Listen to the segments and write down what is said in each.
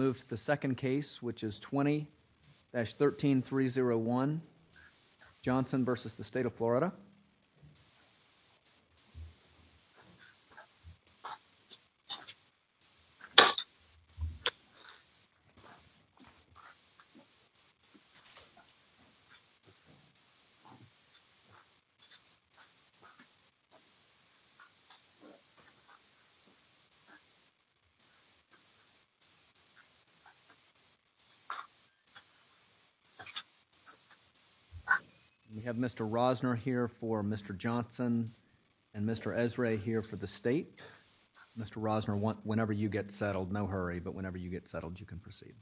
Move to the second case which is 20-13301 Johnson v. State of Florida We have Mr. Rosner here for Mr. Johnson and Mr. Esrae here for the State. Mr. Rosner, whenever you get settled, no hurry, but whenever you get settled, you can proceed.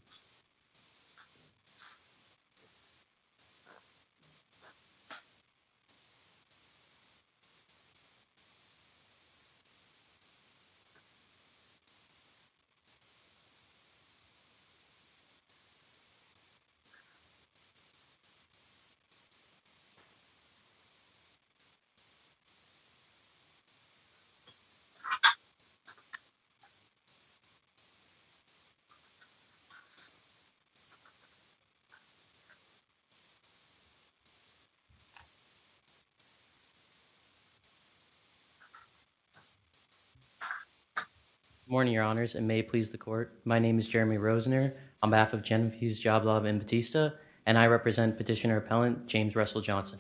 Good morning, Your Honors, and may it please the Court, my name is Jeremy Rosner. I am on behalf of Genevieve Jablov and Batista and I represent Petitioner Appellant James Russell Johnson.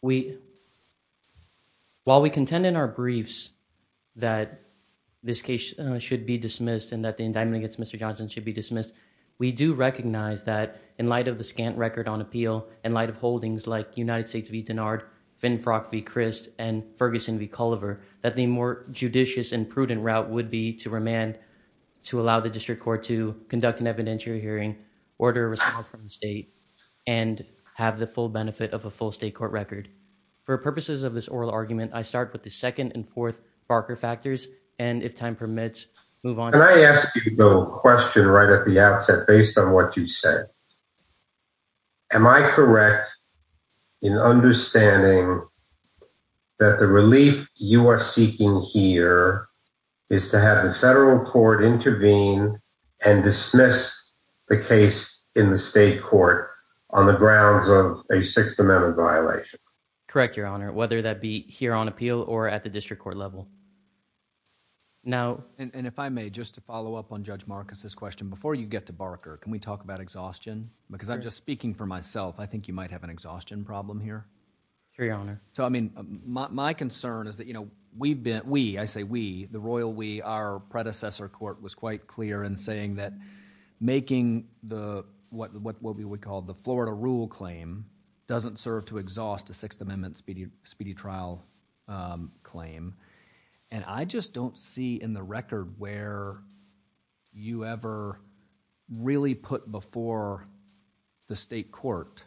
While we contend in our briefs that this case should be dismissed and that the indictment against Mr. Johnson should be dismissed, we do recognize that in light of the scant record on appeal, in light of holdings like United States v. Dennard, Finfrock v. Crist, and Ferguson v. Culliver, that the more judicious and prudent route would be to remand, to allow the District Court to conduct an evidentiary hearing, order a response from the State, and have the full benefit of a full State Court record. For purposes of this oral argument, I start with the second and fourth Barker factors, and if time permits, move on. Can I ask you to build a question right at the outset based on what you said? Am I correct in understanding that the relief you are seeking here is to have the Federal Court intervene and dismiss the case in the State Court on the grounds of a Sixth Amendment violation? Correct Your Honor, whether that be here on appeal or at the District Court level. And if I may, just to follow up on Judge Marcus' question, before you get to Barker, can we say that we might have an exhaustion problem here? Sure, Your Honor. My concern is that we, I say we, the Royal we, our predecessor court was quite clear in saying that making what we would call the Florida rule claim doesn't serve to exhaust a Sixth Amendment speedy trial claim. And I just don't see in the record where you ever really put before the State Court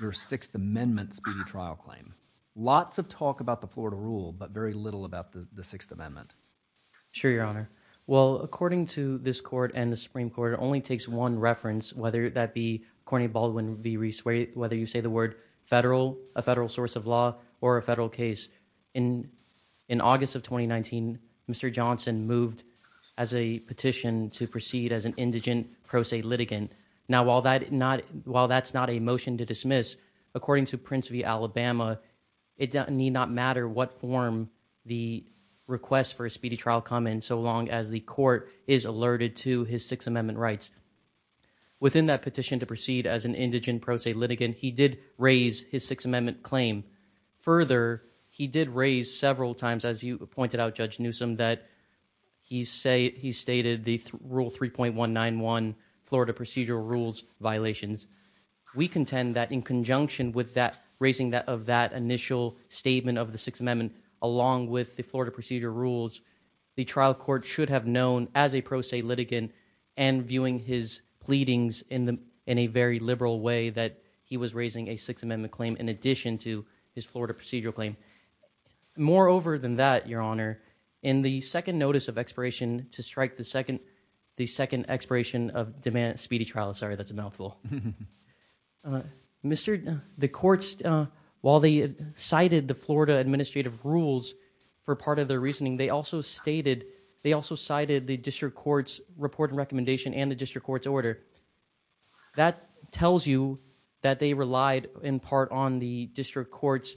your Sixth Amendment speedy trial claim. Lots of talk about the Florida rule, but very little about the Sixth Amendment. Sure, Your Honor. Well, according to this court and the Supreme Court, it only takes one reference, whether that be, according to Baldwin v. Reese, whether you say the word Federal, a Federal source of law, or a Federal case. In August of 2019, Mr. Johnson moved as a petition to proceed as an indigent pro se litigant. Now, while that's not a motion to dismiss, according to Prince v. Alabama, it need not matter what form the request for a speedy trial come in so long as the court is alerted to his Sixth Amendment rights. Within that petition to proceed as an indigent pro se litigant, he did raise his Sixth Amendment claim. He stated the Rule 3.191 Florida Procedural Rules violations. We contend that in conjunction with that, raising of that initial statement of the Sixth Amendment along with the Florida Procedural Rules, the trial court should have known as a pro se litigant and viewing his pleadings in a very liberal way that he was raising a Sixth Amendment claim in addition to his Florida Procedural claim. Moreover than that, Your Honor, in the second notice of expiration to strike the second expiration of speedy trial, sorry, that's a mouthful. The courts, while they cited the Florida Administrative Rules for part of their reasoning, they also cited the District Court's report and recommendation and the District Court's order. That tells you that they relied in part on the District Court's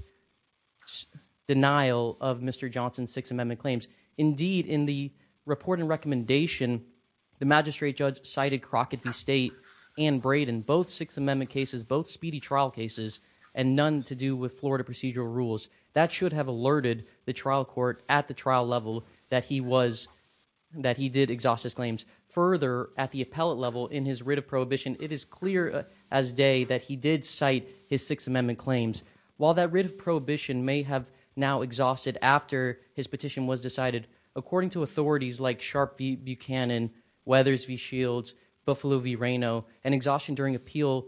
denial of Mr. Johnson's Sixth Amendment claims. Indeed, in the report and recommendation, the magistrate judge cited Crockett v. State and Braden, both Sixth Amendment cases, both speedy trial cases, and none to do with Florida Procedural Rules. That should have alerted the trial court at the trial level that he was, that he did exhaust his claims. Further, at the appellate level, in his writ of prohibition, it is clear as day that he did cite his Sixth Amendment claims. While that writ of prohibition may have now exhausted after his petition was decided, according to authorities like Sharp v. Buchanan, Weathers v. Shields, Buffalo v. Reno, an exhaustion during appeal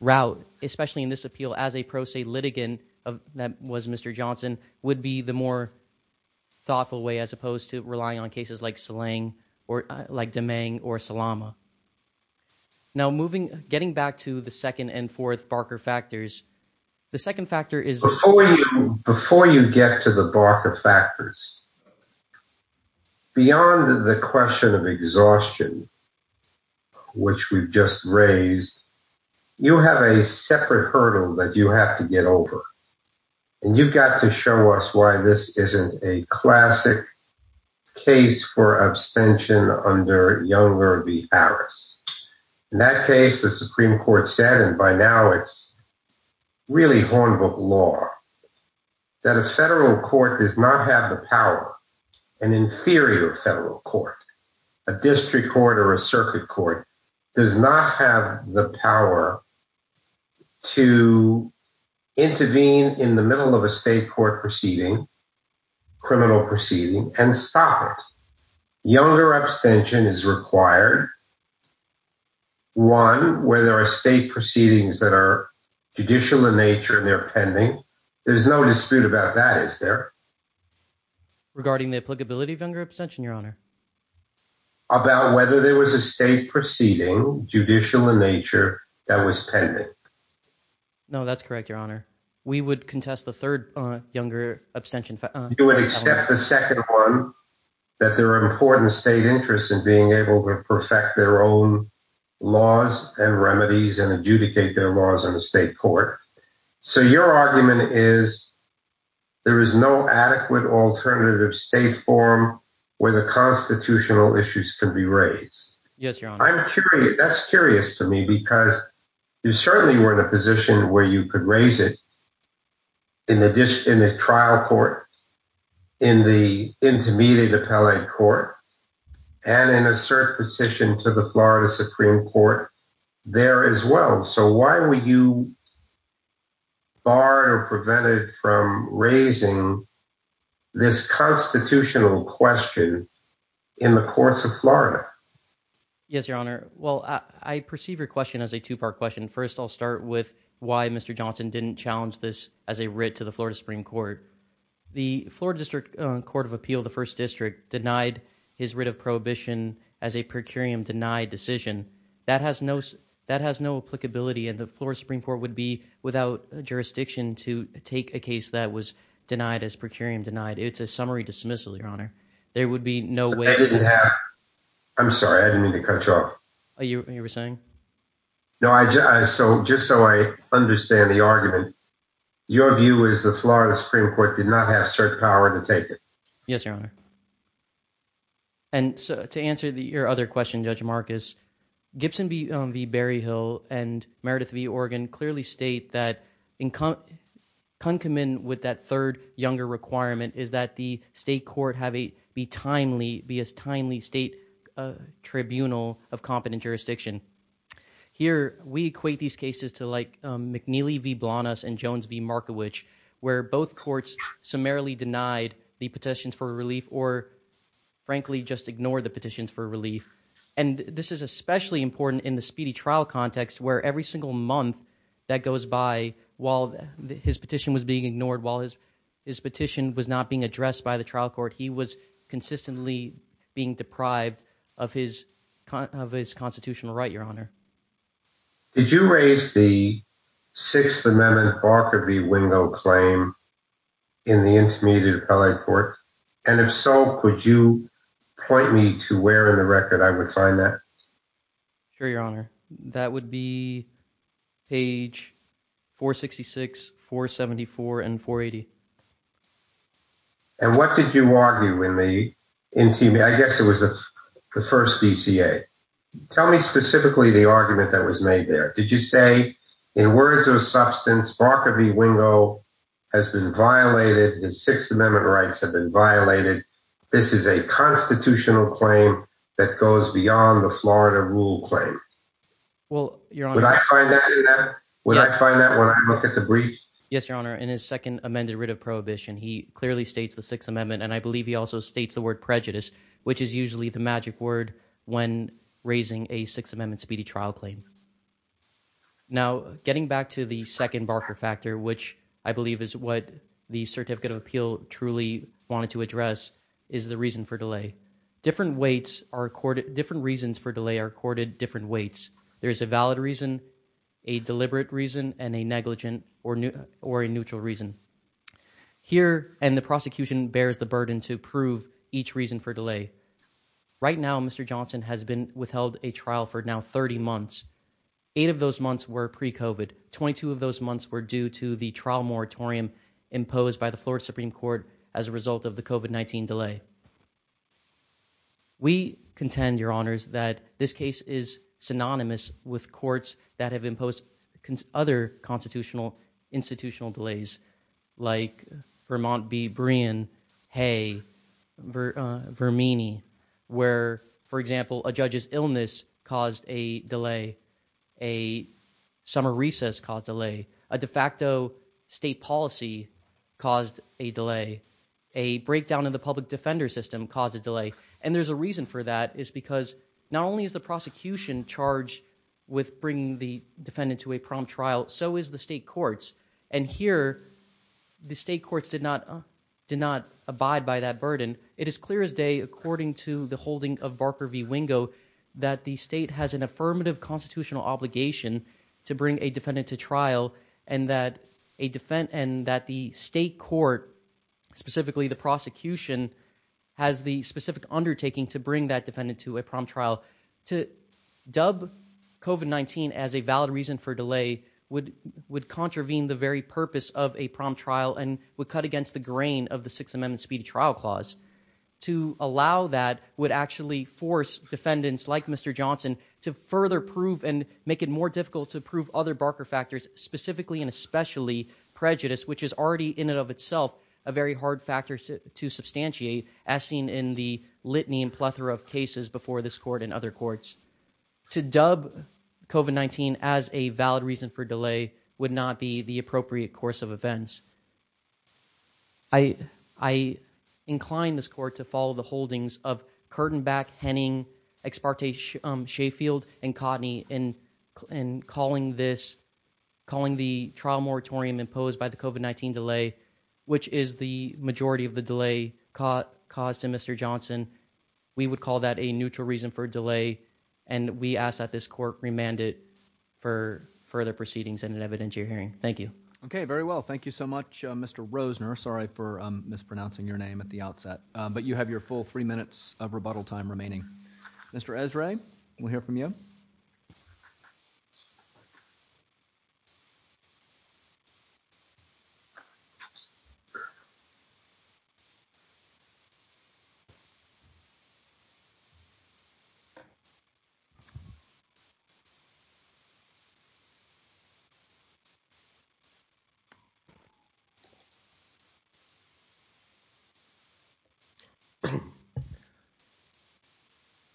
route, especially in this appeal as a pro se litigant that was Mr. Johnson, would be the more thoughtful way as opposed to relying on cases like Salang or like Deming or Salama. Now moving, getting back to the second and fourth Barker factors, the second factor is... Before you get to the Barker factors, beyond the question of exhaustion, which we've just raised, you have a separate hurdle that you have to get over. And you've got to show us why this isn't a classic case for abstention under Younger v. Harris. In that case, the Supreme Court said, and by now it's really Hornbook law, that a federal court does not have the power, an inferior federal court, a district court or a circuit court, does not have the power to intervene in the middle of a state court proceeding, and to have a criminal proceeding and stop it. Younger abstention is required, one, where there are state proceedings that are judicial in nature and they're pending. There's no dispute about that, is there? Regarding the applicability of Younger abstention, Your Honor? About whether there was a state proceeding, judicial in nature, that was pending. No, that's correct, Your Honor. We would contest the third Younger abstention... You would accept the second one, that there are important state interests in being able to perfect their own laws and remedies and adjudicate their laws in the state court. So your argument is, there is no adequate alternative state form where the constitutional Yes, Your Honor. That's curious to me, because you certainly were in a position where you could raise it in a trial court, in the intermediate appellate court, and in a certain position to the Florida Supreme Court there as well. So why were you barred or prevented from raising this constitutional question in the courts of Florida? Yes, Your Honor. Well, I perceive your question as a two-part question. First, I'll start with why Mr. Johnson didn't challenge this as a writ to the Florida Supreme Court. The Florida District Court of Appeal, the first district, denied his writ of prohibition as a per curiam denied decision. That has no applicability, and the Florida Supreme Court would be without jurisdiction to take a case that was denied as per curiam denied. It's a summary dismissal, Your Honor. There would be no way... I'm sorry, I didn't mean to cut you off. Oh, you were saying? No, just so I understand the argument, your view is the Florida Supreme Court did not have cert power to take it. Yes, Your Honor. And to answer your other question, Judge Marcus, Gibson v. Berryhill and Meredith v. Organ clearly state that concomitant with that third, younger requirement is that the state court be a timely state tribunal of competent jurisdiction. Here, we equate these cases to like McNeely v. Blanas and Jones v. Markiewicz, where both courts summarily denied the petitions for relief or frankly just ignored the petitions for relief. And this is especially important in the speedy trial context where every single month that he was consistently being deprived of his constitutional right, Your Honor. Did you raise the Sixth Amendment Barker v. Wingo claim in the intermediate appellate court? And if so, could you point me to where in the record I would find that? Sure, Your Honor. That would be page 466, 474, and 480. And what did you argue in the, I guess it was the first DCA. Tell me specifically the argument that was made there. Did you say, in words or substance, Barker v. Wingo has been violated, the Sixth Amendment rights have been violated, this is a constitutional claim that goes beyond the Florida rule claim? Well, Your Honor. Would I find that in that? Would I find that when I look at the brief? Yes, Your Honor. In his second amended writ of prohibition, he clearly states the Sixth Amendment and I believe he also states the word prejudice, which is usually the magic word when raising a Sixth Amendment speedy trial claim. Now, getting back to the second Barker factor, which I believe is what the Certificate of Appeal truly wanted to address, is the reason for delay. Different reasons for delay are accorded different weights. There is a valid reason, a deliberate reason, and a negligent or a neutral reason. Here, and the prosecution bears the burden to prove each reason for delay. Right now, Mr. Johnson has been withheld a trial for now 30 months. Eight of those months were pre-COVID. Twenty-two of those months were due to the trial moratorium imposed by the Florida Supreme Court as a result of the COVID-19 delay. We contend, Your Honors, that this case is synonymous with courts that have imposed other constitutional, institutional delays, like Vermont v. Breein, Hay v. Vermini, where, for example, a judge's illness caused a delay, a summer recess caused a delay, a de facto state policy caused a delay, a breakdown in the public defender system caused a delay. And there's a reason for that. It's because not only is the prosecution charged with bringing the defendant to a prompt trial, so is the state courts. And here, the state courts did not abide by that burden. It is clear as day, according to the holding of Barker v. Wingo, that the state has an affirmative constitutional obligation to bring a defendant to trial and that the state court, specifically the prosecution, has the specific undertaking to bring that as a valid reason for delay, would contravene the very purpose of a prompt trial and would cut against the grain of the Sixth Amendment speedy trial clause. To allow that would actually force defendants like Mr. Johnson to further prove and make it more difficult to prove other Barker factors, specifically and especially prejudice, which is already in and of itself a very hard factor to substantiate, as seen in the litany and plethora of cases before this court and other courts. To dub COVID-19 as a valid reason for delay would not be the appropriate course of events. I incline this court to follow the holdings of Curtainback, Henning, Exparte, Sheffield, and Cotney in calling this, calling the trial moratorium imposed by the COVID-19 delay, which is the majority of the delay caused to Mr. Johnson, we would call that a neutral reason for delay and we ask that this court remand it for further proceedings in an evidentiary hearing. Thank you. Okay, very well. Thank you so much, Mr. Rosner. Sorry for mispronouncing your name at the outset. But you have your full three minutes of rebuttal time remaining. Mr. Esrae, we'll hear from you.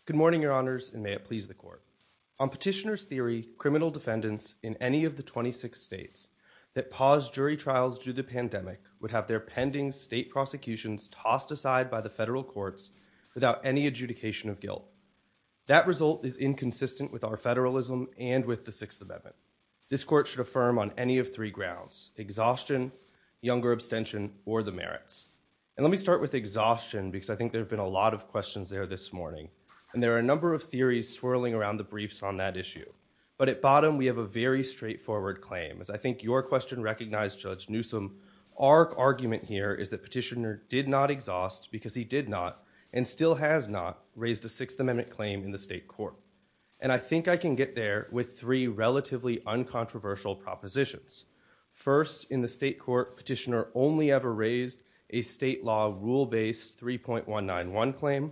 Good morning, Your Honors, and may it please the court. On petitioner's theory, criminal defendants in any of the 26 states that pause jury trials due to without any adjudication of guilt. That result is inconsistent with our federalism and with the Sixth Amendment. This court should affirm on any of three grounds, exhaustion, younger abstention, or the merits. And let me start with exhaustion because I think there have been a lot of questions there this morning. And there are a number of theories swirling around the briefs on that issue. But at bottom, we have a very straightforward claim. As I think your question recognized, Judge Newsome, our argument here is that petitioner did not exhaust because he did not and still has not raised a Sixth Amendment claim in the state court. And I think I can get there with three relatively uncontroversial propositions. First, in the state court, petitioner only ever raised a state law rule-based 3.191 claim.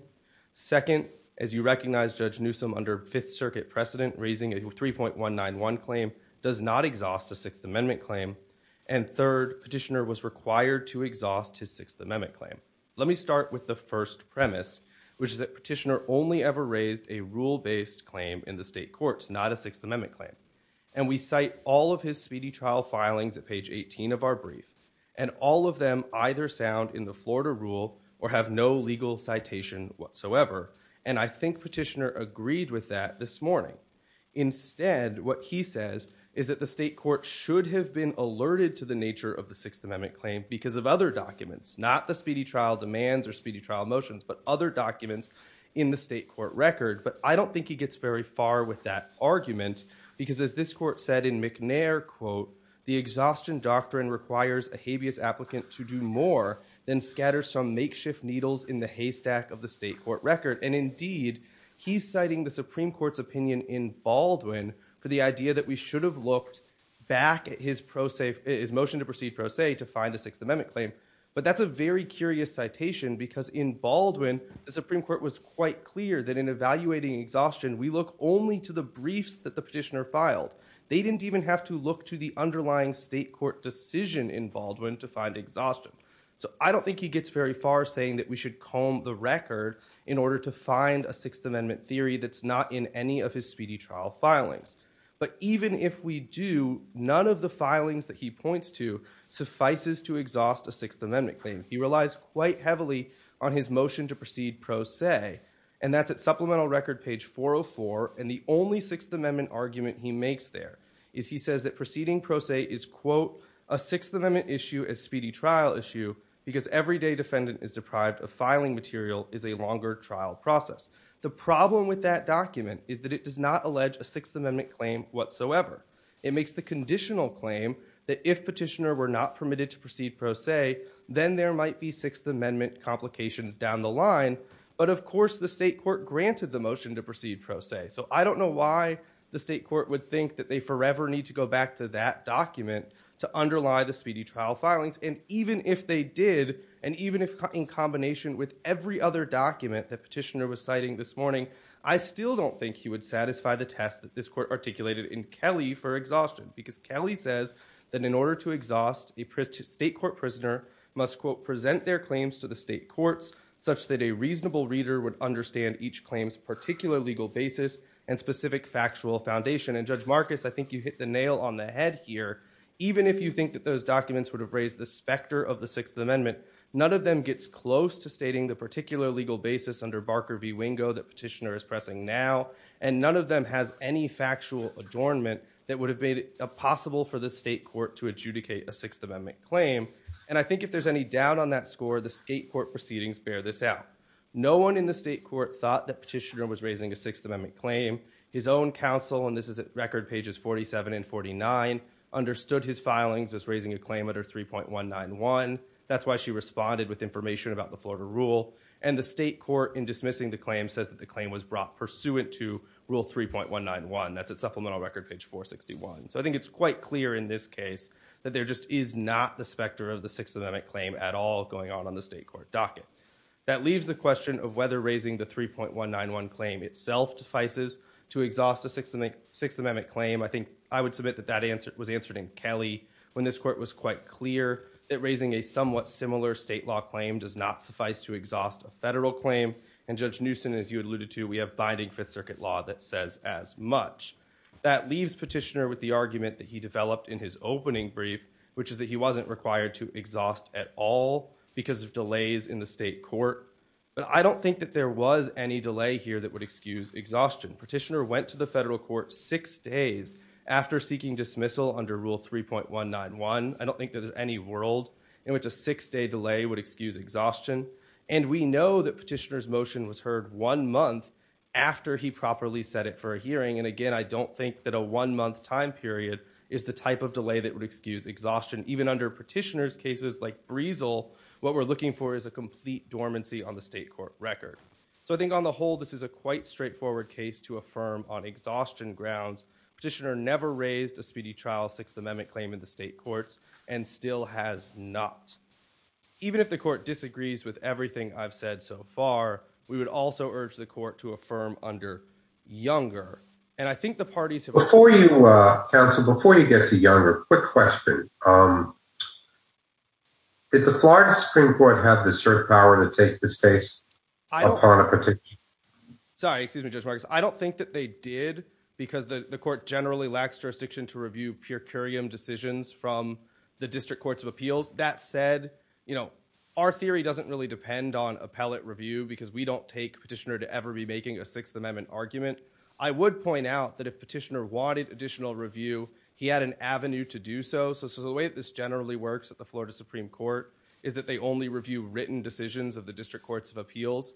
Second, as you recognize, Judge Newsome, under Fifth Circuit precedent, raising a 3.191 claim does not exhaust a Sixth Amendment claim. And third, petitioner was required to exhaust his Sixth Amendment claim. Let me start with the first premise, which is that petitioner only ever raised a rule-based claim in the state courts, not a Sixth Amendment claim. And we cite all of his speedy trial filings at page 18 of our brief. And all of them either sound in the Florida rule or have no legal citation whatsoever. And I think petitioner agreed with that this morning. Instead, what he says is that the state court should have been alerted to the nature of the Sixth Amendment claim because of other documents, not the speedy trial demands or speedy trial motions, but other documents in the state court record. But I don't think he gets very far with that argument because, as this court said in McNair, quote, the exhaustion doctrine requires a habeas applicant to do more than scatter some makeshift needles in the haystack of the state court record. And indeed, he's citing the Supreme Court's opinion in Baldwin for the idea that we should have looked back at his motion to proceed pro se to find a Sixth Amendment claim. But that's a very curious citation because in Baldwin, the Supreme Court was quite clear that in evaluating exhaustion, we look only to the briefs that the petitioner filed. They didn't even have to look to the underlying state court decision in Baldwin to find exhaustion. So I don't think he gets very far saying that we should comb the record in order to find a Sixth Amendment theory that's not in any of his speedy trial filings. But even if we do, none of the filings that he points to suffices to exhaust a Sixth Amendment claim. He relies quite heavily on his motion to proceed pro se, and that's at supplemental record page 404. And the only Sixth Amendment argument he makes there is he says that proceeding pro se is, quote, a Sixth Amendment issue is speedy trial issue because everyday defendant is deprived of filing material is a longer trial process. The problem with that document is that it does not allege a Sixth Amendment claim whatsoever. It makes the conditional claim that if petitioner were not permitted to proceed pro se, then there might be Sixth Amendment complications down the line. But of course, the state court granted the motion to proceed pro se. So I don't know why the state court would think that they forever need to go back to that document to underlie the speedy trial filings. And even if they did, and even if in combination with every other document that petitioner was citing this morning, I still don't think he would satisfy the test that this court articulated in Kelly for exhaustion. Because Kelly says that in order to exhaust a state court prisoner must, quote, present their claims to the state courts such that a reasonable reader would understand each claim's particular legal basis and specific factual foundation. And Judge Marcus, I think you hit the nail on the head here. Even if you think that those documents would have raised the specter of the Sixth Amendment, none of them gets close to stating the particular legal basis under Barker v. Wingo that petitioner is pressing now. And none of them has any factual adornment that would have made it possible for the state court to adjudicate a Sixth Amendment claim. And I think if there's any doubt on that score, the state court proceedings bear this out. No one in the state court thought that petitioner was raising a Sixth Amendment claim. His own counsel, and this is at record pages 47 and 49, understood his filings as raising a claim under 3.191. That's why she responded with information about the Florida rule. And the state court, in dismissing the claim, says that the claim was brought pursuant to Rule 3.191. That's at supplemental record page 461. So I think it's quite clear in this case that there just is not the specter of the Sixth Amendment claim at all going on on the state court docket. That leaves the question of whether raising the 3.191 claim itself suffices to exhaust a Sixth Amendment claim. I think I would submit that that answer was answered in Kelly when this court was quite clear that raising a somewhat similar state law claim does not suffice to exhaust a federal claim. And Judge Newsom, as you alluded to, we have binding Fifth Circuit law that says as much. That leaves petitioner with the argument that he developed in his opening brief, which is that he wasn't required to exhaust at all because of delays in the state court. But I don't think that there was any delay here that would excuse exhaustion. Petitioner went to the federal court six days after seeking dismissal under Rule 3.191. I don't think there's any world in which a six-day delay would excuse exhaustion. And we know that petitioner's motion was heard one month after he properly set it for a hearing. And again, I don't think that a one-month time period is the type of delay that would excuse exhaustion. Even under petitioner's cases like Breesal, what we're looking for is a complete dormancy on the state court record. So I think on the whole, this is a quite straightforward case to affirm on exhaustion grounds. Petitioner never raised a speedy trial Sixth Amendment claim in the state courts and still has not. Even if the court disagrees with everything I've said so far, we would also urge the court to affirm under Younger. And I think the parties have— Before you, counsel, before you get to Younger, quick question. Did the Florida Supreme Court have the cert power to take this case upon a petitioner? Sorry, excuse me, Judge Marcus. I don't think that they did because the court generally lacks jurisdiction to review pure curiam decisions from the District Courts of Appeals. That said, our theory doesn't really depend on appellate review because we don't take petitioner to ever be making a Sixth Amendment argument. I would point out that if petitioner wanted additional review, he had an avenue to do so. So the way that this generally works at the Florida Supreme Court is that they only review written decisions of the District Courts of Appeals.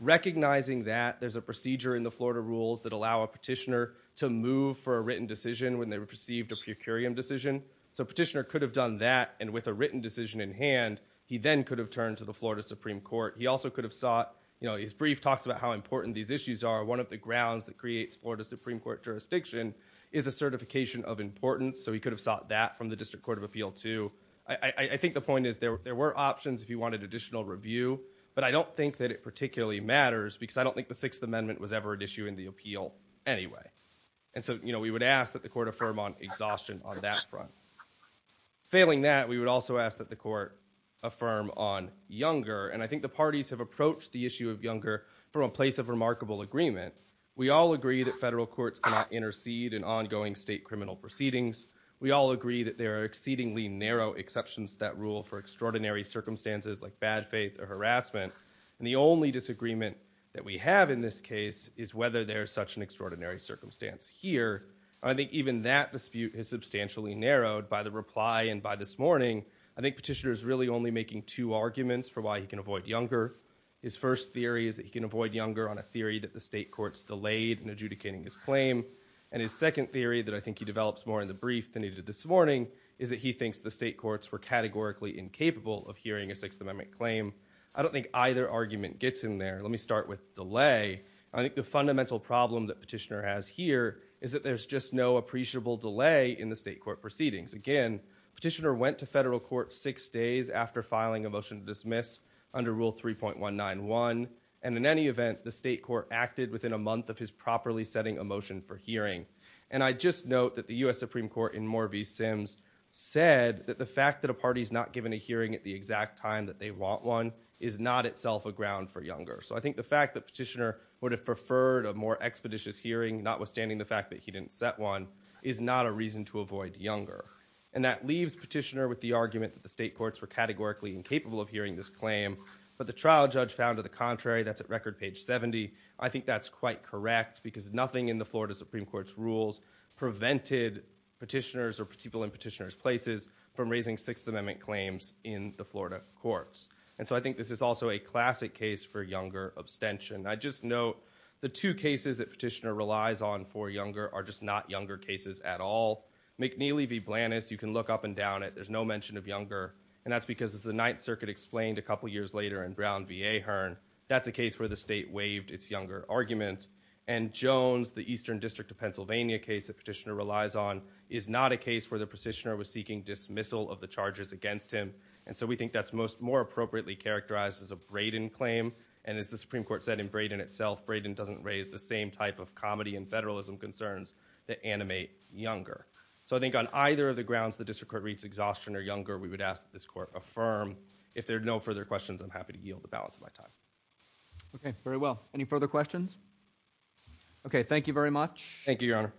Recognizing that there's a procedure in the Florida rules that allow a petitioner to move for a written decision when they received a pure curiam decision. So petitioner could have done that and with a written decision in hand, he then could have turned to the Florida Supreme Court. He also could have sought—his brief talks about how important these issues are. One of the grounds that creates Florida Supreme Court jurisdiction is a certification of importance. So he could have sought that from the District Court of Appeal, too. I think the point is there were options if he wanted additional review, but I don't think that it particularly matters because I don't think the Sixth Amendment was ever an issue in the appeal anyway. And so, you know, we would ask that the court affirm on exhaustion on that front. Failing that, we would also ask that the court affirm on Younger. And I think the parties have approached the issue of Younger from a place of remarkable agreement. We all agree that federal courts cannot intercede in ongoing state criminal proceedings. We all agree that there are exceedingly narrow exceptions that rule for extraordinary circumstances like bad faith or harassment. And the only disagreement that we have in this case is whether there is such an extraordinary circumstance here. I think even that dispute is substantially narrowed by the reply and by this morning. I think petitioner is really only making two arguments for why he can avoid Younger. His first theory is that he can avoid Younger on a theory that the state courts delayed in adjudicating his claim. And his second theory that I think he develops more in the brief than he did this morning is that he thinks the state courts were categorically incapable of hearing a Sixth Amendment claim. I don't think either argument gets in there. Let me start with delay. I think the fundamental problem that petitioner has here is that there's just no appreciable delay in the state court proceedings. Again, petitioner went to federal court six days after filing a motion to dismiss under Rule 3.191. And in any event, the state court acted within a month of his properly setting a motion for hearing. And I just note that the U.S. Supreme Court in Moore v. Sims said that the fact that a party is not given a hearing at the exact time that they want one is not itself a ground for Younger. So I think the fact that petitioner would have preferred a more expeditious hearing, notwithstanding the fact that he didn't set one, is not a reason to avoid Younger. And that leaves petitioner with the argument that the state courts were categorically incapable of hearing this claim. But the trial judge found, to the contrary, that's at record page 70. I think that's quite correct because nothing in the Florida Supreme Court's rules prevented petitioners or people in petitioner's places from raising Sixth Amendment claims in the Florida courts. And so I think this is also a classic case for Younger abstention. I just note the two cases that petitioner relies on for Younger are just not Younger cases at all. McNeely v. Blanus, you can look up and down it, there's no mention of Younger. And that's because, as the Ninth Circuit explained a couple years later in Brown v. Ahern, that's a case where the state waived its Younger argument. And Jones, the Eastern District of Pennsylvania case that petitioner relies on, is not a case where the petitioner was seeking dismissal of the charges against him. And so we think that's more appropriately characterized as a Brayden claim. And as the Supreme Court said in Brayden itself, Brayden doesn't raise the same type of comedy and federalism concerns that animate Younger. So I think on either of the grounds the District Court reads Exhaustion or Younger, we would ask that this Court affirm. If there are no further questions, I'm happy to yield the balance of my time. Okay, very well. Any further questions? Okay, thank you very much. Thank you, Your Honor.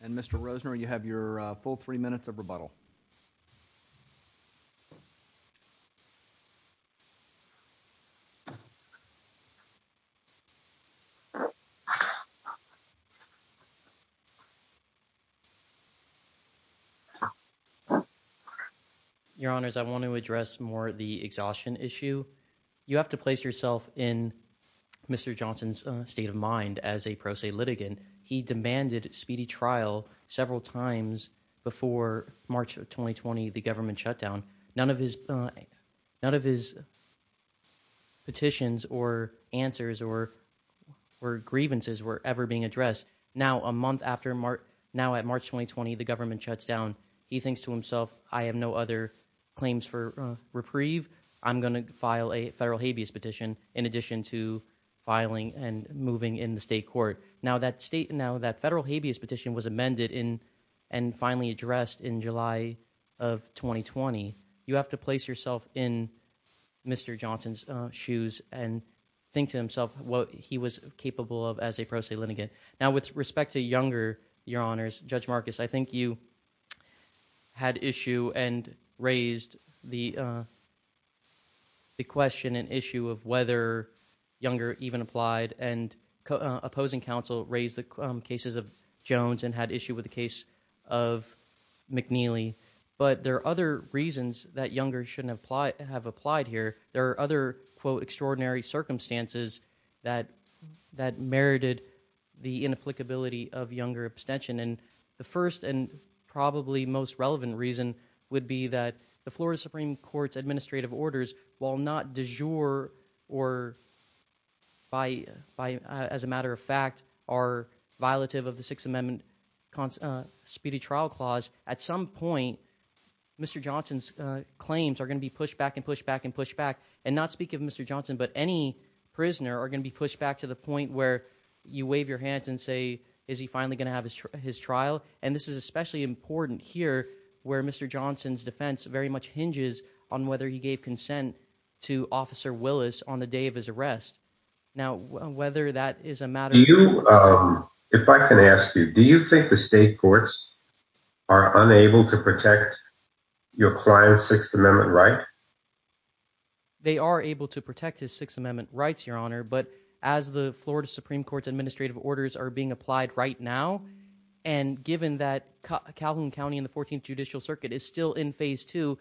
And Mr. Rosner, you have your full three minutes of rebuttal. Your Honors, I want to address more the exhaustion issue. You have to place yourself in Mr. Johnson's state of mind as a pro se litigant. He demanded speedy trial several times before March of 2020, the government shutdown. None of his petitions or answers or grievances were ever being addressed. Now a month after March, now at March 2020, the government shuts down. He thinks to himself, I have no other claims for reprieve. I'm going to file a federal habeas petition in addition to filing and moving in the state court. Now that federal habeas petition was amended and finally addressed in July of 2020. You have to place yourself in Mr. Johnson's shoes and think to himself what he was capable of as a pro se litigant. Now with respect to Younger, Your Honors, Judge Marcus, I think you had issue and raised the question and issue of whether Younger even applied. And opposing counsel raised the cases of Jones and had issue with the case of McNeely. But there are other reasons that Younger shouldn't have applied here. There are other, quote, extraordinary circumstances that merited the inapplicability of Younger abstention. And the first and probably most relevant reason would be that the Florida Supreme Court's administrative orders, while not du jour or as a matter of fact are violative of the Sixth Amendment speedy trial clause, at some point, Mr. Johnson's claims are going to be pushed back and pushed back and pushed back. And not speak of Mr. Johnson, but any prisoner are going to be pushed back to the point where you wave your hands and say, is he finally going to have his trial? And this is especially important here where Mr. Johnson's defense very much hinges on whether he gave consent to Officer Willis on the day of his arrest. Now, whether that is a matter you if I can ask you, do you think the state courts are unable to protect your client's Sixth Amendment right? They are able to protect his Sixth Amendment rights, your honor, but as the Florida Supreme Court's administrative orders are being applied right now. And given that Calhoun County in the 14th Judicial Circuit is still in phase two,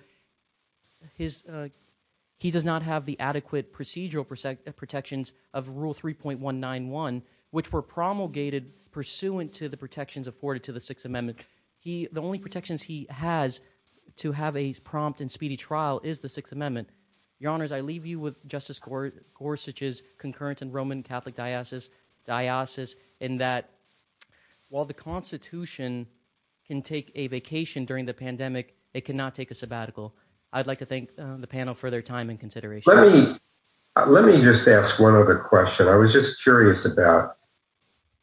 he does not have the adequate procedural protections of rule 3.191, which were promulgated pursuant to the protections afforded to the Sixth Amendment. The only protections he has to have a prompt and speedy trial is the Sixth Amendment. Your honors, I leave you with Justice Gorsuch's concurrent and Roman Catholic diocese in that while the Constitution can take a vacation during the pandemic, it cannot take a sabbatical. I'd like to thank the panel for their time and consideration. Let me let me just ask one other question. I was just curious about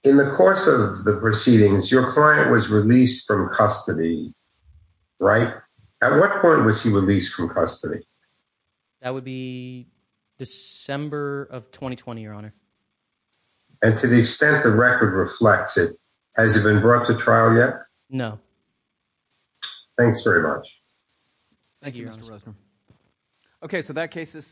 in the course of the proceedings, your client was released from custody. Right. At what point was he released from custody? That would be December of 2020, your honor. And to the extent the record reflects it, has it been brought to trial yet? No. Thanks very much. Thank you. Okay, so that case is.